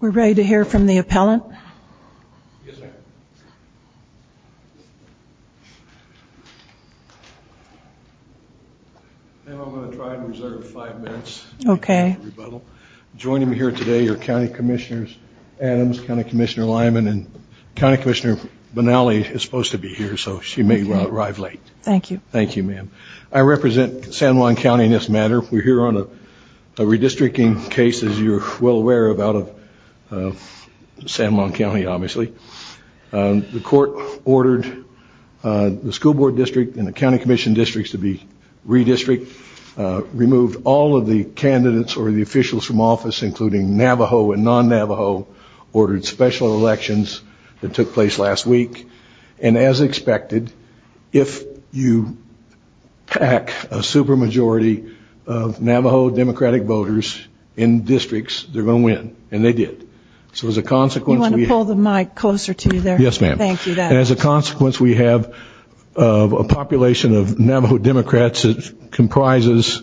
We're ready to hear from the appellant. Yes, ma'am. Ma'am, I'm going to try and reserve five minutes. Okay. Joining me here today are County Commissioners Adams, County Commissioner Lyman, and County Commissioner Benally is supposed to be here so she may arrive late. Thank you. Thank you, ma'am. I represent San Juan County in this matter. We're here on a redistricting case, as you're well aware, out of San Juan County, obviously. The court ordered the school board district and the county commission districts to be redistricted, removed all of the candidates or the officials from office, including Navajo and non-Navajo, ordered special elections that took place last week. And as expected, if you pack a super majority of Navajo Democratic voters in districts, they're going to win. And they did. You want to pull the mic closer to you there? Yes, ma'am. Thank you for that. As a consequence, we have a population of Navajo Democrats that comprises,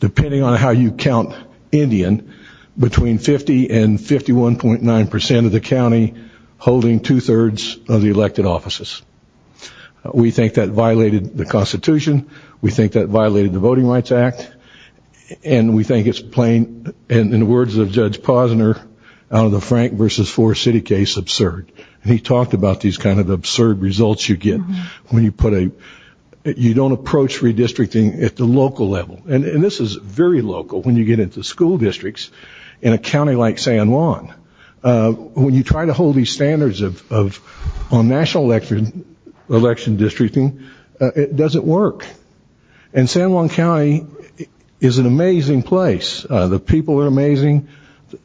depending on how you count Indian, between 50 and 51.9% of the county, holding two-thirds of the elected offices. We think that violated the Constitution. We think that violated the Voting Rights Act. And we think it's plain, in the words of Judge Posner, out of the Frank versus Forest City case, absurd. And he talked about these kind of absurd results you get when you put a you don't approach redistricting at the local level. And this is very local when you get into school districts in a county like San Juan. When you try to hold these standards on national election districting, it doesn't work. And San Juan County is an amazing place. The people are amazing.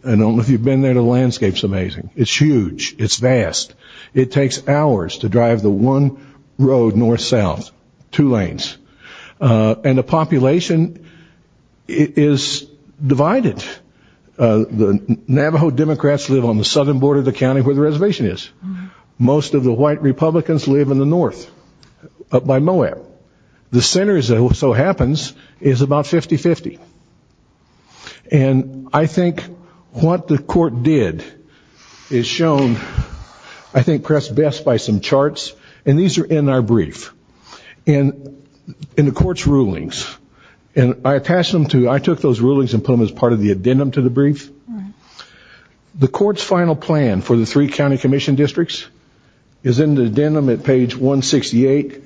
I don't know if you've been there. The landscape is amazing. It's huge. It's vast. It takes hours to drive the one road north-south, two lanes. And the population is divided. The Navajo Democrats live on the southern border of the county where the reservation is. Most of the white Republicans live in the north, up by Moab. The center, as it so happens, is about 50-50. And I think what the court did is shown, I think, perhaps best by some charts. And these are in our brief. And in the court's rulings, and I attached them to, I took those rulings and put them as part of the addendum to the brief. The court's final plan for the three county commission districts is in the addendum at page 168.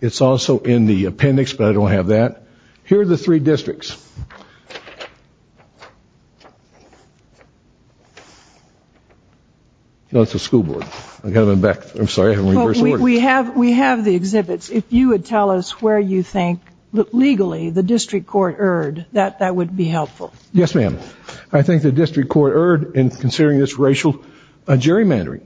It's also in the appendix, but I don't have that. Here are the three districts. No, it's the school board. I've got to go back. I'm sorry. We have the exhibits. If you would tell us where you think, legally, the district court erred, that would be helpful. Yes, ma'am. I think the district court erred in considering this racial gerrymandering.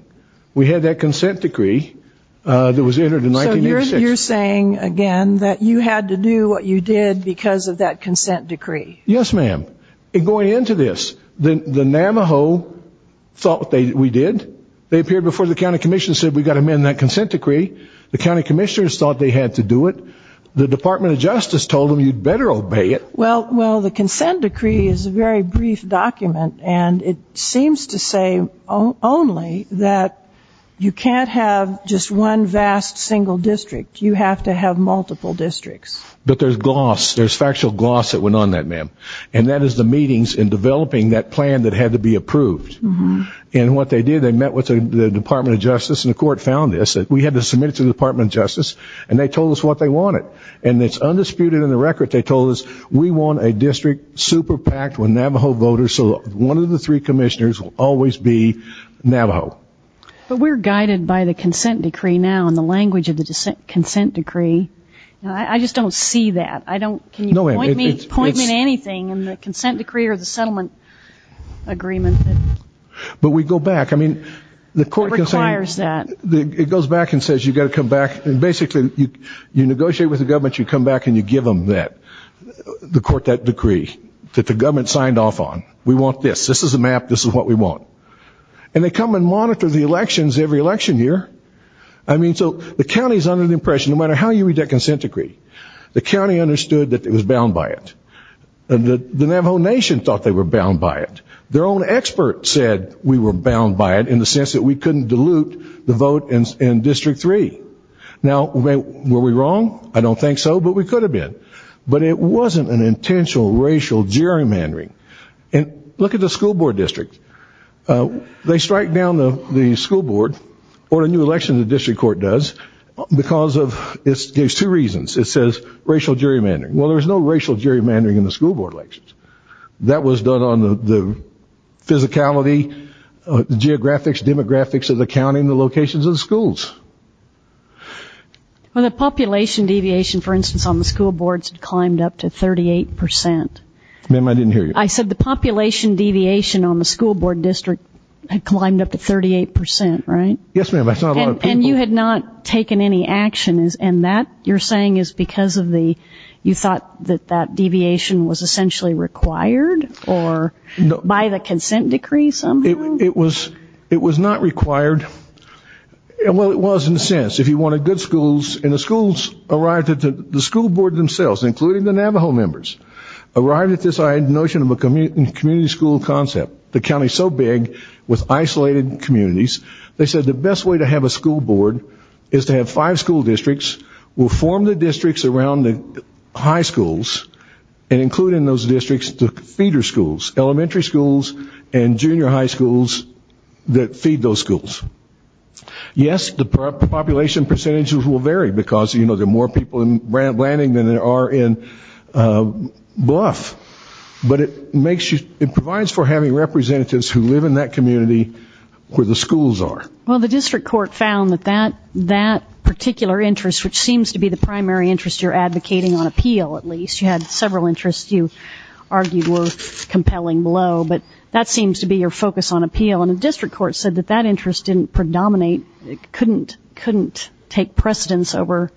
We had that consent decree that was entered in 1986. So you're saying, again, that you had to do what you did because of that consent decree. Yes, ma'am. And going into this, the Namaho thought we did. They appeared before the county commission and said we've got to amend that consent decree. The county commissioners thought they had to do it. The Department of Justice told them you'd better obey it. Well, the consent decree is a very brief document, and it seems to say only that you can't have just one vast single district. You have to have multiple districts. But there's gloss. There's factual gloss that went on that, ma'am. And that is the meetings in developing that plan that had to be approved. And what they did, they met with the Department of Justice, and the court found this. We had to submit it to the Department of Justice, and they told us what they wanted. And it's undisputed in the record. They told us we want a district super-packed with Namaho voters, so one of the three commissioners will always be Namaho. But we're guided by the consent decree now and the language of the consent decree. I just don't see that. I don't. Can you point me to anything in the consent decree or the settlement agreement? But we go back. I mean, the court can say it goes back and says you've got to come back. And basically you negotiate with the government. You come back and you give them that, the court that decree that the government signed off on. We want this. This is a map. This is what we want. And they come and monitor the elections every election year. I mean, so the county is under the impression, no matter how you read that consent decree, the county understood that it was bound by it. The Namaho Nation thought they were bound by it. Their own experts said we were bound by it in the sense that we couldn't dilute the vote in District 3. Now, were we wrong? I don't think so, but we could have been. But it wasn't an intentional racial gerrymandering. And look at the school board district. They strike down the school board or a new election the district court does because of, there's two reasons. It says racial gerrymandering. Well, there was no racial gerrymandering in the school board elections. That was done on the physicality, the geographics, demographics of the county and the locations of the schools. Well, the population deviation, for instance, on the school boards climbed up to 38%. Ma'am, I didn't hear you. I said the population deviation on the school board district had climbed up to 38%, right? Yes, ma'am. And you had not taken any action, and that you're saying is because of the, you thought that that deviation was essentially required or by the consent decree somehow? It was not required. Well, it was in a sense. If you wanted good schools, and the schools arrived at the school board themselves, including the Navajo members, arrived at this notion of a community school concept. The county is so big with isolated communities. They said the best way to have a school board is to have five school districts. We'll form the districts around the high schools and include in those districts the feeder schools, elementary schools and junior high schools that feed those schools. Yes, the population percentages will vary because, you know, there are more people in Blanding than there are in Bluff. But it makes you, it provides for having representatives who live in that community where the schools are. Well, the district court found that that particular interest, which seems to be the primary interest you're advocating on appeal at least, you had several interests you argued were compelling below, but that seems to be your focus on appeal. And the district court said that that interest didn't predominate, couldn't take precedence over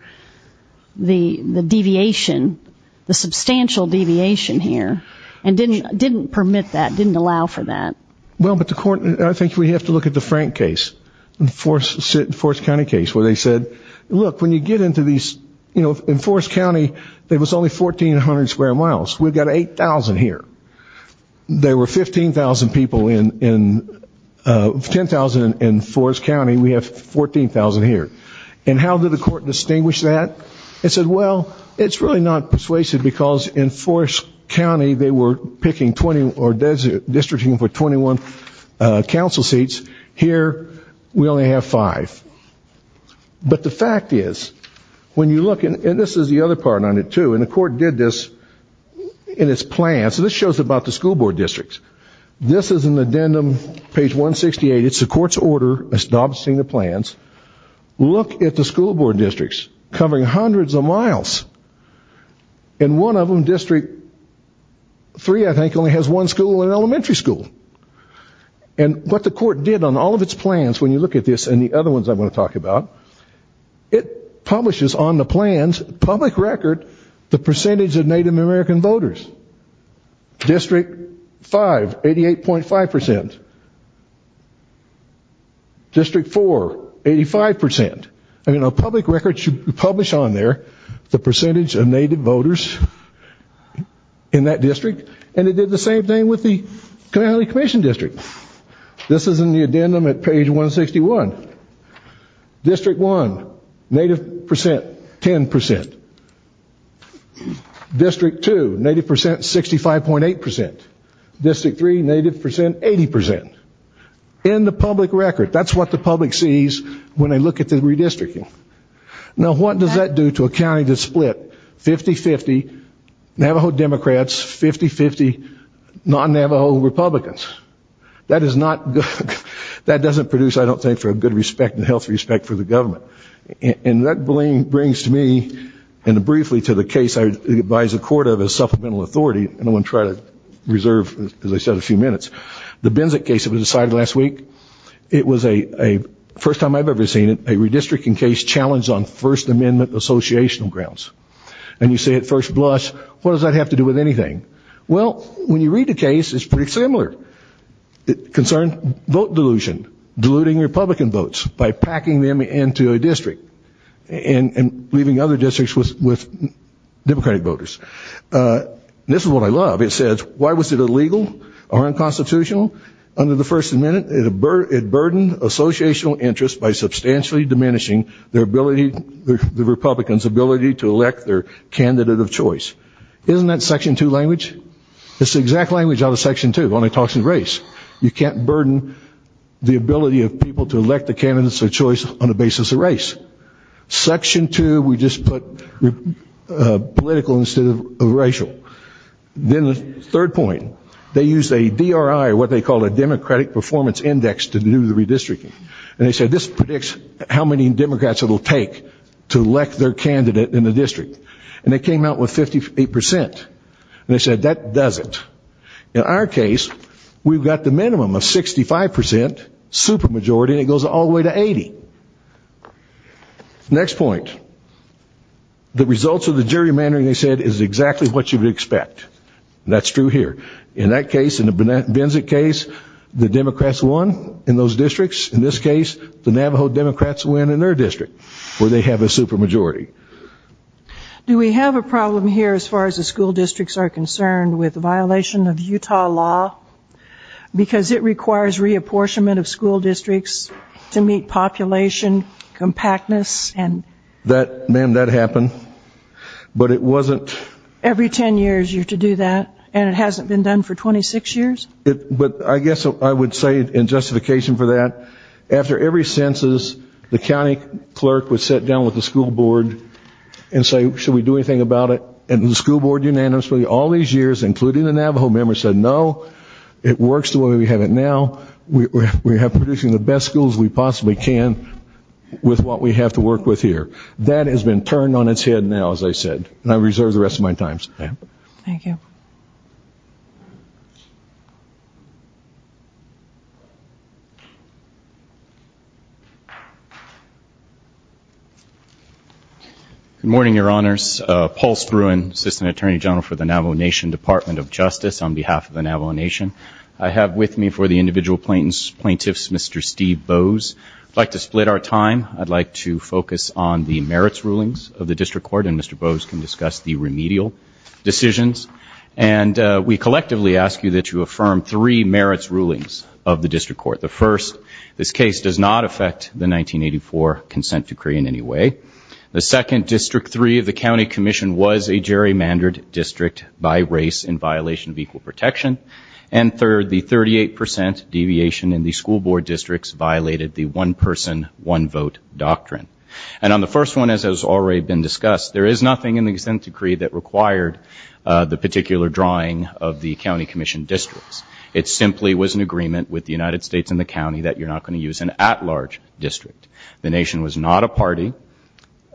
the deviation, the substantial deviation here, and didn't permit that, didn't allow for that. Well, but the court, I think we have to look at the Frank case, the Forest County case, where they said, look, when you get into these, you know, in Forest County there was only 1,400 square miles. We've got 8,000 here. There were 15,000 people in, 10,000 in Forest County. We have 14,000 here. And how did the court distinguish that? It said, well, it's really not persuasive because in Forest County they were picking 21, or districting for 21 council seats. Here we only have five. But the fact is, when you look, and this is the other part on it too, and the court did this in its plan. So this shows about the school board districts. This is an addendum, page 168. It's the court's order. Stop seeing the plans. Look at the school board districts covering hundreds of miles. And one of them, District 3, I think, only has one school, an elementary school. And what the court did on all of its plans, when you look at this and the other ones I'm going to talk about, it publishes on the plans, public record, the percentage of Native American voters. District 5, 88.5%. District 4, 85%. I mean, a public record should publish on there the percentage of Native voters in that district. And it did the same thing with the County Commission District. This is in the addendum at page 161. District 1, Native percent, 10%. District 2, Native percent, 65.8%. District 3, Native percent, 80%. In the public record. That's what the public sees when they look at the redistricting. Now, what does that do to a county that's split 50-50, Navajo Democrats, 50-50, non-Navajo Republicans? That is not good. That doesn't produce, I don't think, for a good respect and a healthy respect for the government. And that brings to me, and briefly to the case I advise the court of as supplemental authority, and I want to try to reserve, as I said, a few minutes. The Benzik case that was decided last week, it was a, first time I've ever seen it, a redistricting case challenged on First Amendment associational grounds. And you say at first blush, what does that have to do with anything? Well, when you read the case, it's pretty similar. It concerns vote dilution, diluting Republican votes by packing them into a district and leaving other districts with Democratic voters. This is what I love. It says, why was it illegal or unconstitutional? Under the First Amendment, it burdened associational interests by substantially diminishing their ability, the Republicans' ability to elect their candidate of choice. Isn't that Section 2 language? It's the exact language out of Section 2. It only talks to race. You can't burden the ability of people to elect the candidates of choice on the basis of race. Section 2, we just put political instead of racial. Then the third point. They used a DRI, what they called a Democratic Performance Index, to do the redistricting. And they said, this predicts how many Democrats it will take to elect their candidate in the district. And they came out with 58%. And they said, that does it. In our case, we've got the minimum of 65% supermajority, and it goes all the way to 80%. Next point. The results of the gerrymandering, they said, is exactly what you would expect. That's true here. In that case, in the Benzik case, the Democrats won in those districts. In this case, the Navajo Democrats win in their district where they have a supermajority. Do we have a problem here as far as the school districts are concerned with the violation of Utah law? Because it requires reapportionment of school districts to meet population compactness? Ma'am, that happened. But it wasn't... Every ten years you have to do that, and it hasn't been done for 26 years? But I guess I would say in justification for that, after every census, the county clerk would sit down with the school board and say, should we do anything about it? And the school board, unanimously, all these years, including the Navajo members, said, no, it works the way we have it now. We are producing the best schools we possibly can with what we have to work with here. That has been turned on its head now, as I said. And I reserve the rest of my time. Thank you. Thank you. Good morning, Your Honors. Paul Spruan, Assistant Attorney General for the Navajo Nation Department of Justice. On behalf of the Navajo Nation, I have with me for the individual plaintiffs Mr. Steve Bowes. I'd like to split our time. I'd like to focus on the merits rulings of the district court, and Mr. Bowes can discuss the remedial decisions. And we collectively ask you that you affirm three merits rulings of the district court. The first, this case does not affect the 1984 consent decree in any way. The second, District 3 of the county commission was a gerrymandered district by race in violation of equal protection. And third, the 38 percent deviation in the school board districts violated the one-person, one-vote doctrine. And on the first one, as has already been discussed, there is nothing in the consent decree that required the particular drawing of the county commission districts. It simply was an agreement with the United States and the county that you're not going to use an at-large district. The nation was not a party.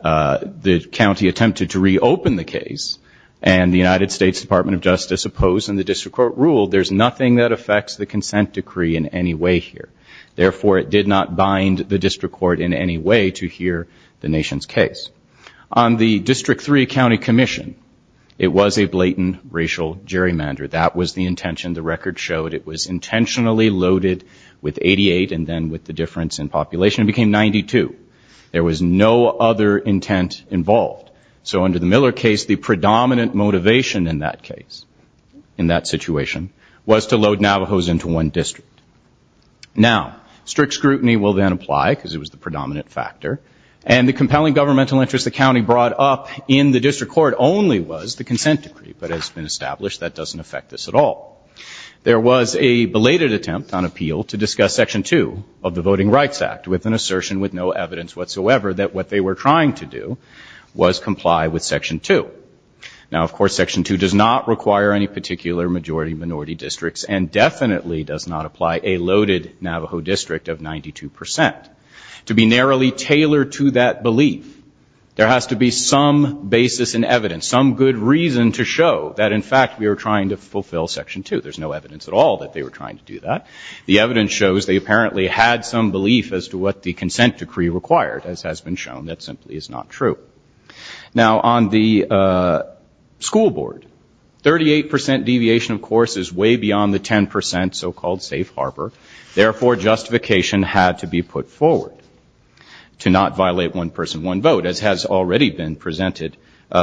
The county attempted to reopen the case, and the United States Department of Justice opposed, and the district court ruled there's nothing that affects the consent decree in any way here. Therefore, it did not bind the district court in any way to hear the nation's case. On the District 3 county commission, it was a blatant racial gerrymander. That was the intention. The record showed it was intentionally loaded with 88 and then with the difference in population. It became 92. There was no other intent involved. So under the Miller case, the predominant motivation in that case, in that situation, was to load Navajos into one district. Now, strict scrutiny will then apply because it was the predominant factor, and the compelling governmental interest the county brought up in the district court only was the consent decree, but it's been established that doesn't affect this at all. There was a belated attempt on appeal to discuss Section 2 of the Voting Rights Act with an assertion with no evidence whatsoever that what they were trying to do was comply with Section 2. Now, of course, Section 2 does not require any particular majority minority districts and definitely does not apply a loaded Navajo district of 92 percent. To be narrowly tailored to that belief, there has to be some basis in evidence, some good reason to show that, in fact, we are trying to fulfill Section 2. There's no evidence at all that they were trying to do that. The evidence shows they apparently had some belief as to what the consent decree required, as has been shown that simply is not true. Now, on the school board, 38 percent deviation, of course, is way beyond the 10 percent so-called safe harbor. Therefore, justification had to be put forward to not violate one person, one vote, as has already been presented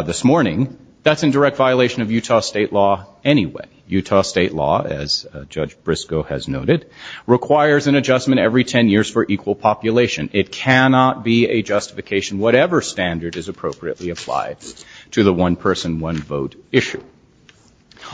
this morning. That's in direct violation of Utah state law anyway. Utah state law, as Judge Briscoe has noted, requires an adjustment every 10 years for equal population. It cannot be a justification, whatever standard is appropriately applied to the one person, one vote issue.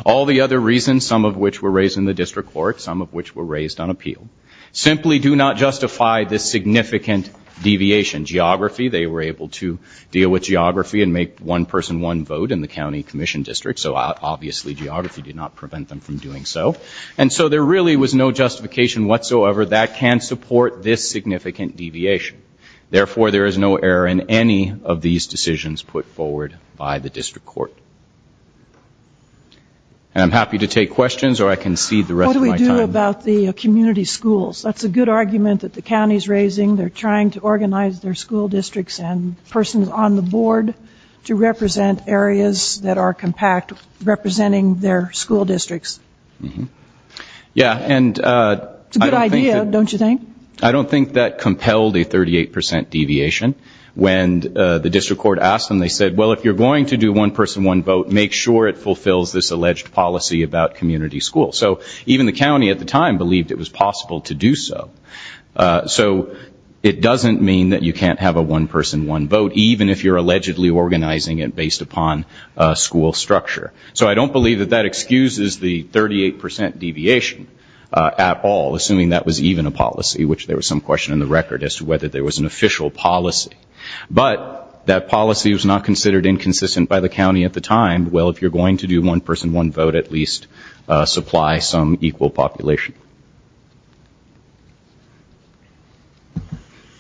All the other reasons, some of which were raised in the district court, some of which were raised on appeal, simply do not justify this significant deviation. Geography, they were able to deal with geography and make one person, one vote in the county commission district, so obviously geography did not prevent them from doing so. And so there really was no justification whatsoever that can support this significant deviation. Therefore, there is no error in any of these decisions put forward by the district court. And I'm happy to take questions, or I can cede the rest of my time. What do we do about the community schools? That's a good argument that the county is raising. They're trying to organize their school districts and persons on the board to represent areas that are compact, representing their school districts. It's a good idea, don't you think? I don't think that compelled a 38 percent deviation. When the district court asked them, they said, well, if you're going to do one person, one vote, make sure it fulfills this alleged policy about community schools. So even the county at the time believed it was possible to do so. So it doesn't mean that you can't have a one person, one vote, even if you're allegedly organizing it based upon school structure. So I don't believe that that excuses the 38 percent deviation at all, assuming that was even a policy, which there was some question in the record as to whether there was an official policy. But that policy was not considered inconsistent by the county at the time. Well, if you're going to do one person, one vote, at least supply some equal population.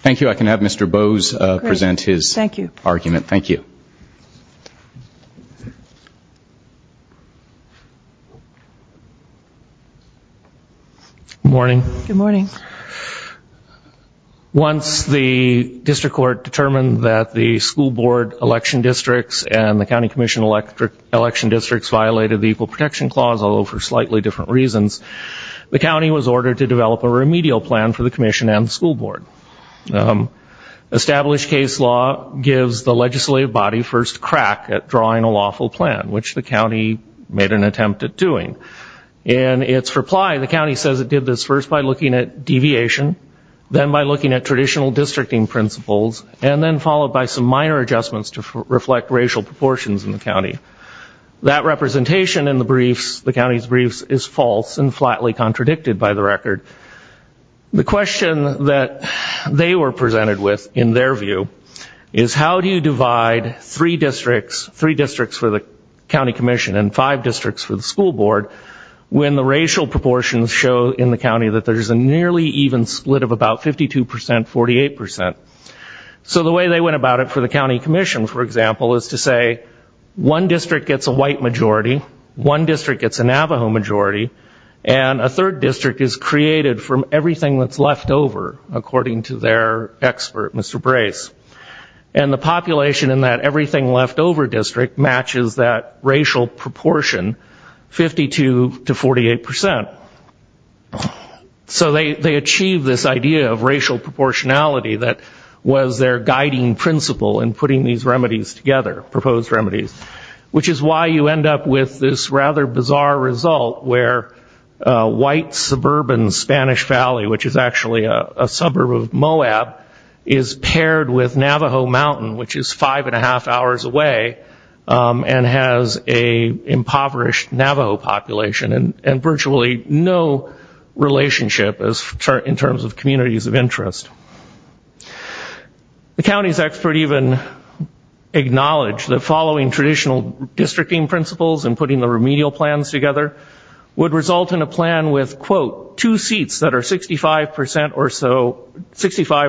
Thank you. I can have Mr. Bowes present his argument. Thank you. Thank you. Good morning. Good morning. Once the district court determined that the school board election districts and the county commission election districts violated the Equal Protection Clause, although for slightly different reasons, the county was ordered to develop a remedial plan for the commission and the school board. Established case law gives the legislative body first crack at drawing a lawful plan, which the county made an attempt at doing. In its reply, the county says it did this first by looking at deviation, then by looking at traditional districting principles, and then followed by some minor adjustments to reflect racial proportions in the county. That representation in the briefs, the county's briefs, is false and flatly contradicted by the record. The question that they were presented with, in their view, is how do you divide three districts, three districts for the county commission and five districts for the school board, when the racial proportions show in the county that there's a nearly even split of about 52%, 48%. So the way they went about it for the county commission, for example, is to say, one district gets a white majority, one district gets a Navajo majority, and a third district is created from everything that's left over, according to their expert, Mr. Brace. And the population in that everything left over district matches that racial proportion, 52% to 48%. So they achieve this idea of racial proportionality that was their guiding principle in putting these remedies together, proposed remedies, which is why you end up with this rather bizarre result where a white suburban Spanish Valley, which is actually a suburb of Moab, is paired with Navajo Mountain, which is five and a half hours away and has an impoverished Navajo population and virtually no relationship in terms of communities of interest. The county's expert even acknowledged that following traditional districting principles and putting the remedial plans together would result in a plan with, quote, two seats that are 65%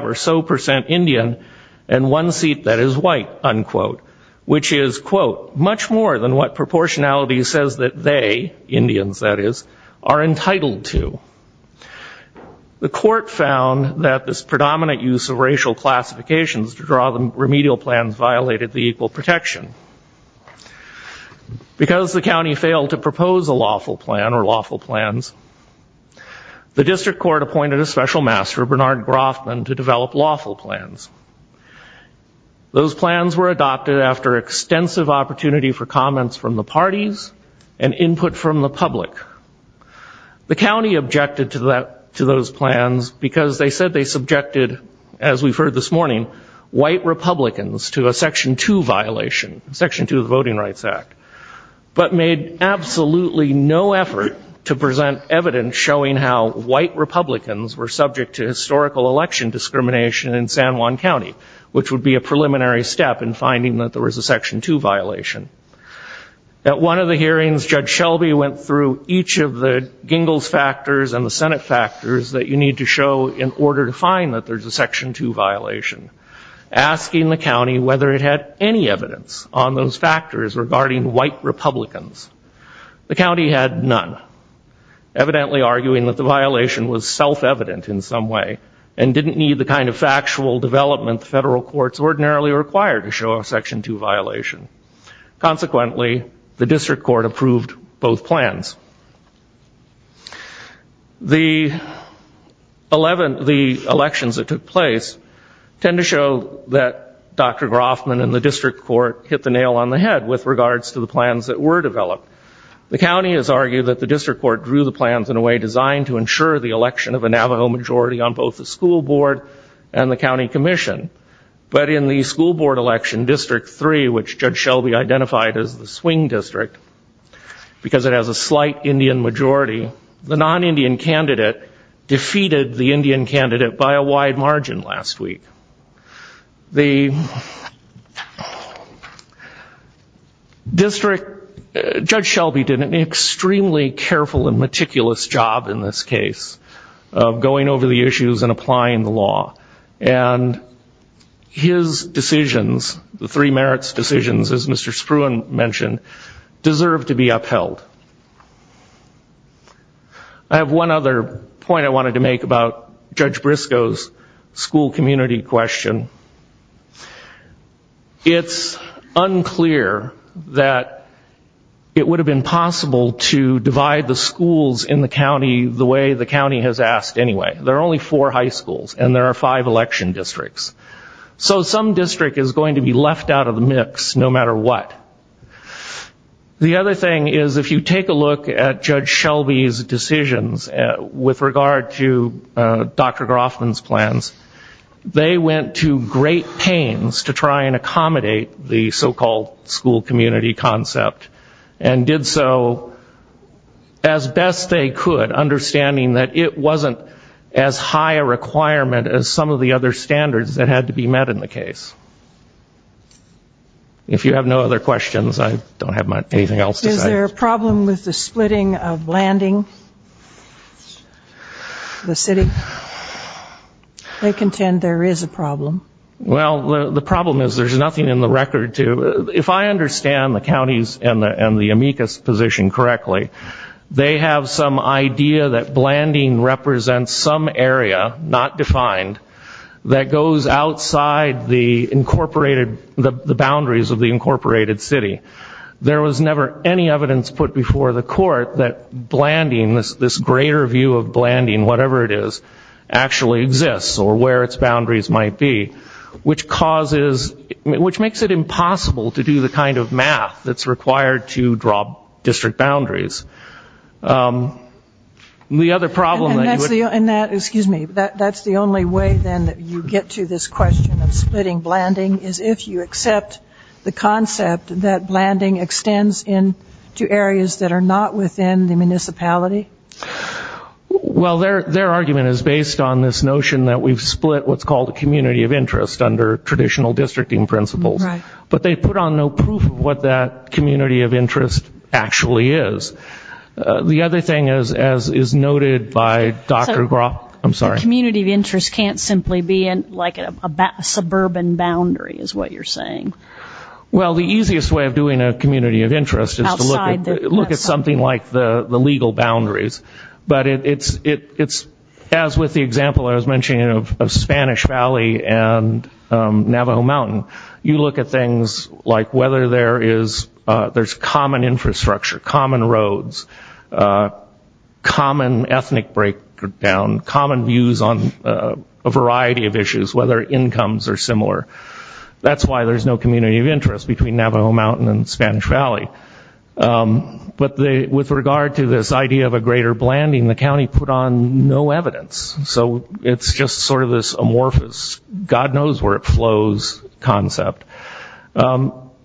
or so Indian and one seat that is white, unquote, which is, quote, much more than what proportionality says that they, Indians that is, are entitled to. The court found that this predominant use of racial classifications to draw the remedial plans violated the equal protection. Because the county failed to propose a lawful plan or lawful plans, the district court appointed a special master, Bernard Groffman, to develop lawful plans. Those plans were adopted after extensive opportunity for comments from the parties and input from the public. The county objected to those plans because they said they subjected, as we've heard this morning, white Republicans to a Section 2 violation, Section 2 of the Voting Rights Act, but made absolutely no effort to present evidence showing how white Republicans were subject to historical election discrimination in San Juan County, which would be a preliminary step in finding that there was a Section 2 violation. At one of the hearings, Judge Shelby went through each of the gingles factors and the Senate factors that you need to show in order to find that there's a Section 2 violation, asking the county whether it had any evidence on those factors regarding white Republicans. The county had none, evidently arguing that the violation was self-evident in some way and didn't need the kind of factual development the federal courts ordinarily require to show a Section 2 violation. Consequently, the district court approved both plans. The elections that took place tend to show that Dr. Groffman and the district court hit the nail on the head with regards to the plans that were developed. The county has argued that the district court drew the plans in a way designed to ensure the election of a Navajo majority on both the school board and the county commission, but in the school board election, District 3, which Judge Shelby identified as the Swing District, because it has a slight Indian majority, the non-Indian candidate defeated the Indian candidate by a wide margin last week. Judge Shelby did an extremely careful and meticulous job in this case and his decisions, the three merits decisions, as Mr. Spruan mentioned, deserve to be upheld. I have one other point I wanted to make about Judge Briscoe's school community question. It's unclear that it would have been possible to divide the schools in the county the way the county has asked anyway. There are only four high schools and there are five election districts. So some district is going to be left out of the mix no matter what. The other thing is if you take a look at Judge Shelby's decisions with regard to Dr. Groffman's plans, they went to great pains to try and accommodate the so-called school community concept and did so as best they could, understanding that it wasn't as high a requirement as some of the other standards that had to be met in the case. If you have no other questions, I don't have anything else to say. Is there a problem with the splitting of landing, the city? They contend there is a problem. Well, the problem is there's nothing in the record to... and the amicus position correctly. They have some idea that blanding represents some area, not defined, that goes outside the boundaries of the incorporated city. There was never any evidence put before the court that this greater view of blanding, whatever it is, actually exists or where its boundaries might be, which causes, which makes it impossible to do the kind of math that's required to draw district boundaries. The other problem... And that, excuse me, that's the only way then that you get to this question of splitting blanding is if you accept the concept that blanding extends into areas that are not within the municipality? Well, their argument is based on this notion that we've split what's called a community of interest under traditional districting principles. Right. But they put on no proof of what that community of interest actually is. The other thing, as is noted by Dr. Groff... The community of interest can't simply be like a suburban boundary, is what you're saying. Well, the easiest way of doing a community of interest is to look at something like the legal boundaries. But it's, as with the example I was mentioning of Spanish Valley and Navajo Mountain, you look at things like whether there's common infrastructure, common roads, common ethnic breakdown, common views on a variety of issues, whether incomes are similar. That's why there's no community of interest between Navajo Mountain and Spanish Valley. But with regard to this idea of a greater blanding, the county put on no evidence. So it's just sort of this amorphous, God knows where it flows, concept.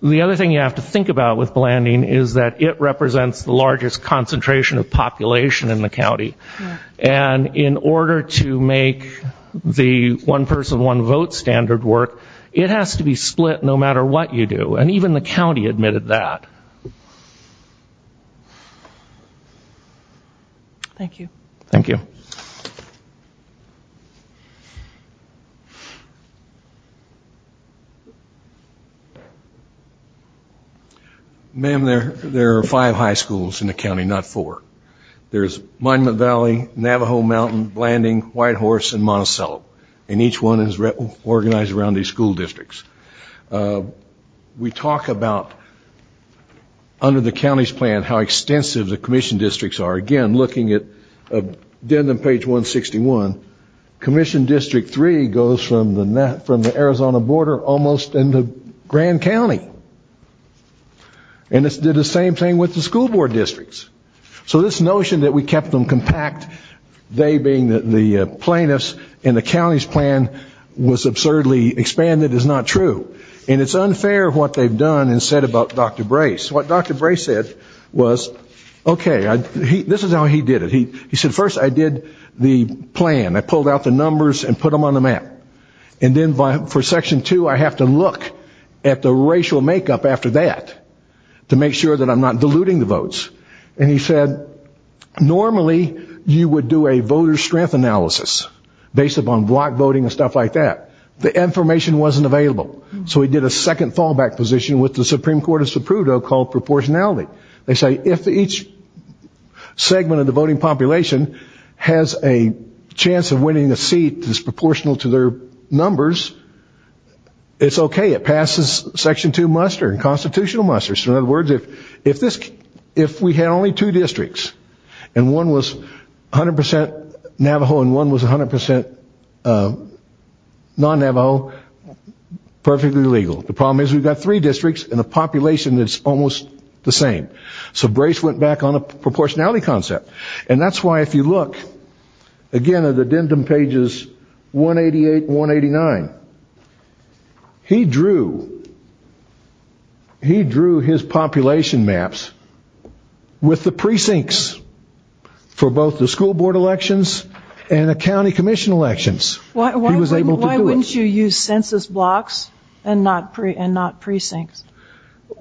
The other thing you have to think about with blanding is that it represents the largest concentration of population in the county. And in order to make the one person, one vote standard work, it has to be split no matter what you do. And even the county admitted that. Thank you. Thank you. Ma'am, there are five high schools in the county, not four. There's Monument Valley, Navajo Mountain, Blanding, Whitehorse, and Monticello. And each one is organized around these school districts. We talk about, under the county's plan, how extensive the commission districts are. Again, looking at the end of page 161, Commission District 3 goes from the Arizona border almost into Grand County. And it did the same thing with the school board districts. So this notion that we kept them compact, they being the plaintiffs, and the county's plan was absurdly expanded is not true. And it's unfair what they've done and said about Dr. Brace. What Dr. Brace said was, okay, this is how he did it. He said, first I did the plan. I pulled out the numbers and put them on the map. And then for Section 2, I have to look at the racial makeup after that to make sure that I'm not diluting the votes. And he said, normally you would do a voter strength analysis based upon block voting and stuff like that. The information wasn't available. So he did a second fallback position with the Supreme Court of Supruto called proportionality. They say if each segment of the voting population has a chance of winning a seat that's proportional to their numbers, it's okay. It passes Section 2 muster and constitutional muster. So in other words, if we had only two districts and one was 100% Navajo and one was 100% non-Navajo, perfectly legal. The problem is we've got three districts and a population that's almost the same. So Brace went back on a proportionality concept. And that's why if you look, again, at addendum pages 188 and 189, he drew his population maps with the precincts for both the school board elections and the county commission elections. Why wouldn't you use census blocks and not precincts?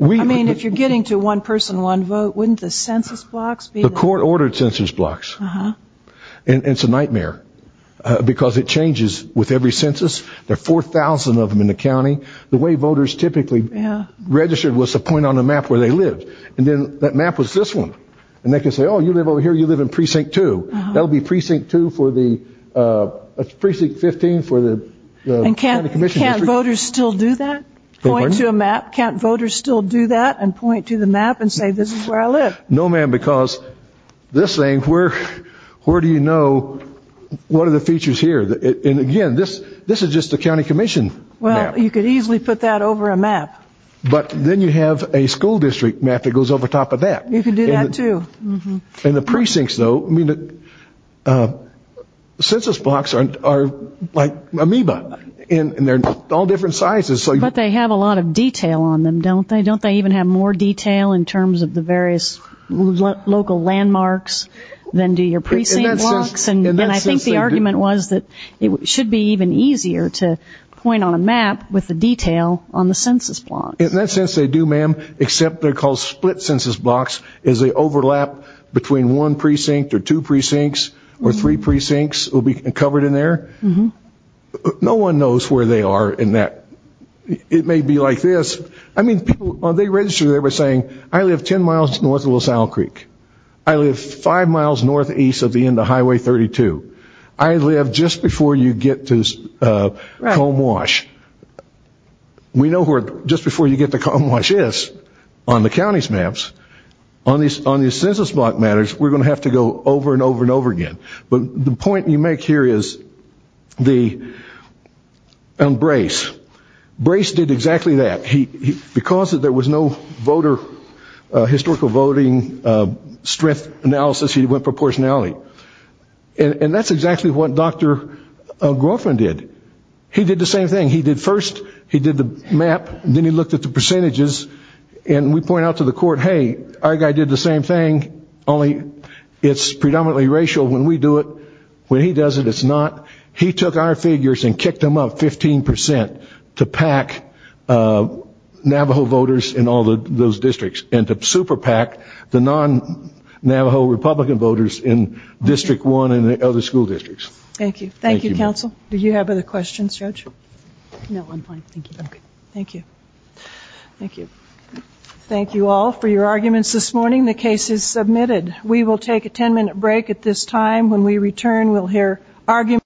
I mean, if you're getting to one person, one vote, wouldn't the census blocks be there? The court ordered census blocks. And it's a nightmare because it changes with every census. There are 4,000 of them in the county. The way voters typically registered was to point on a map where they lived. And then that map was this one. And they can say, oh, you live over here, you live in precinct 2. That would be precinct 2 for the precinct 15 for the county commission district. And can't voters still do that? Point to a map? Can't voters still do that and point to the map and say, this is where I live? No, ma'am, because this thing, where do you know what are the features here? And, again, this is just a county commission map. Well, you could easily put that over a map. But then you have a school district map that goes over top of that. You can do that, too. In the precincts, though, census blocks are like amoeba. And they're all different sizes. But they have a lot of detail on them, don't they? Don't they even have more detail in terms of the various local landmarks than do your precinct blocks? And I think the argument was that it should be even easier to point on a map with the detail on the census blocks. In that sense, they do, ma'am, except they're called split census blocks as they overlap between one precinct or two precincts or three precincts will be covered in there. No one knows where they are in that. It may be like this. I mean, people, they register there by saying, I live 10 miles north of LaSalle Creek. I live five miles northeast of the end of Highway 32. I live just before you get to Comb Wash. We know where just before you get to Comb Wash is on the county's maps. On the census block matters, we're going to have to go over and over and over again. But the point you make here is on Brace. Brace did exactly that. Because there was no voter historical voting strength analysis, he went proportionality. And that's exactly what Dr. Groffman did. He did the same thing. He did first, he did the map, then he looked at the percentages. And we point out to the court, hey, our guy did the same thing, only it's predominantly racial when we do it. When he does it, it's not. He took our figures and kicked them up 15 percent to pack Navajo voters in all those districts and to super pack the non-Navajo Republican voters in District 1 and the other school districts. Thank you. Thank you, Counsel. Do you have other questions, Judge? No, I'm fine. Thank you. Thank you. Thank you. Thank you all for your arguments this morning. The case is submitted. We will take a 10-minute break at this time. When we return, we'll hear arguments.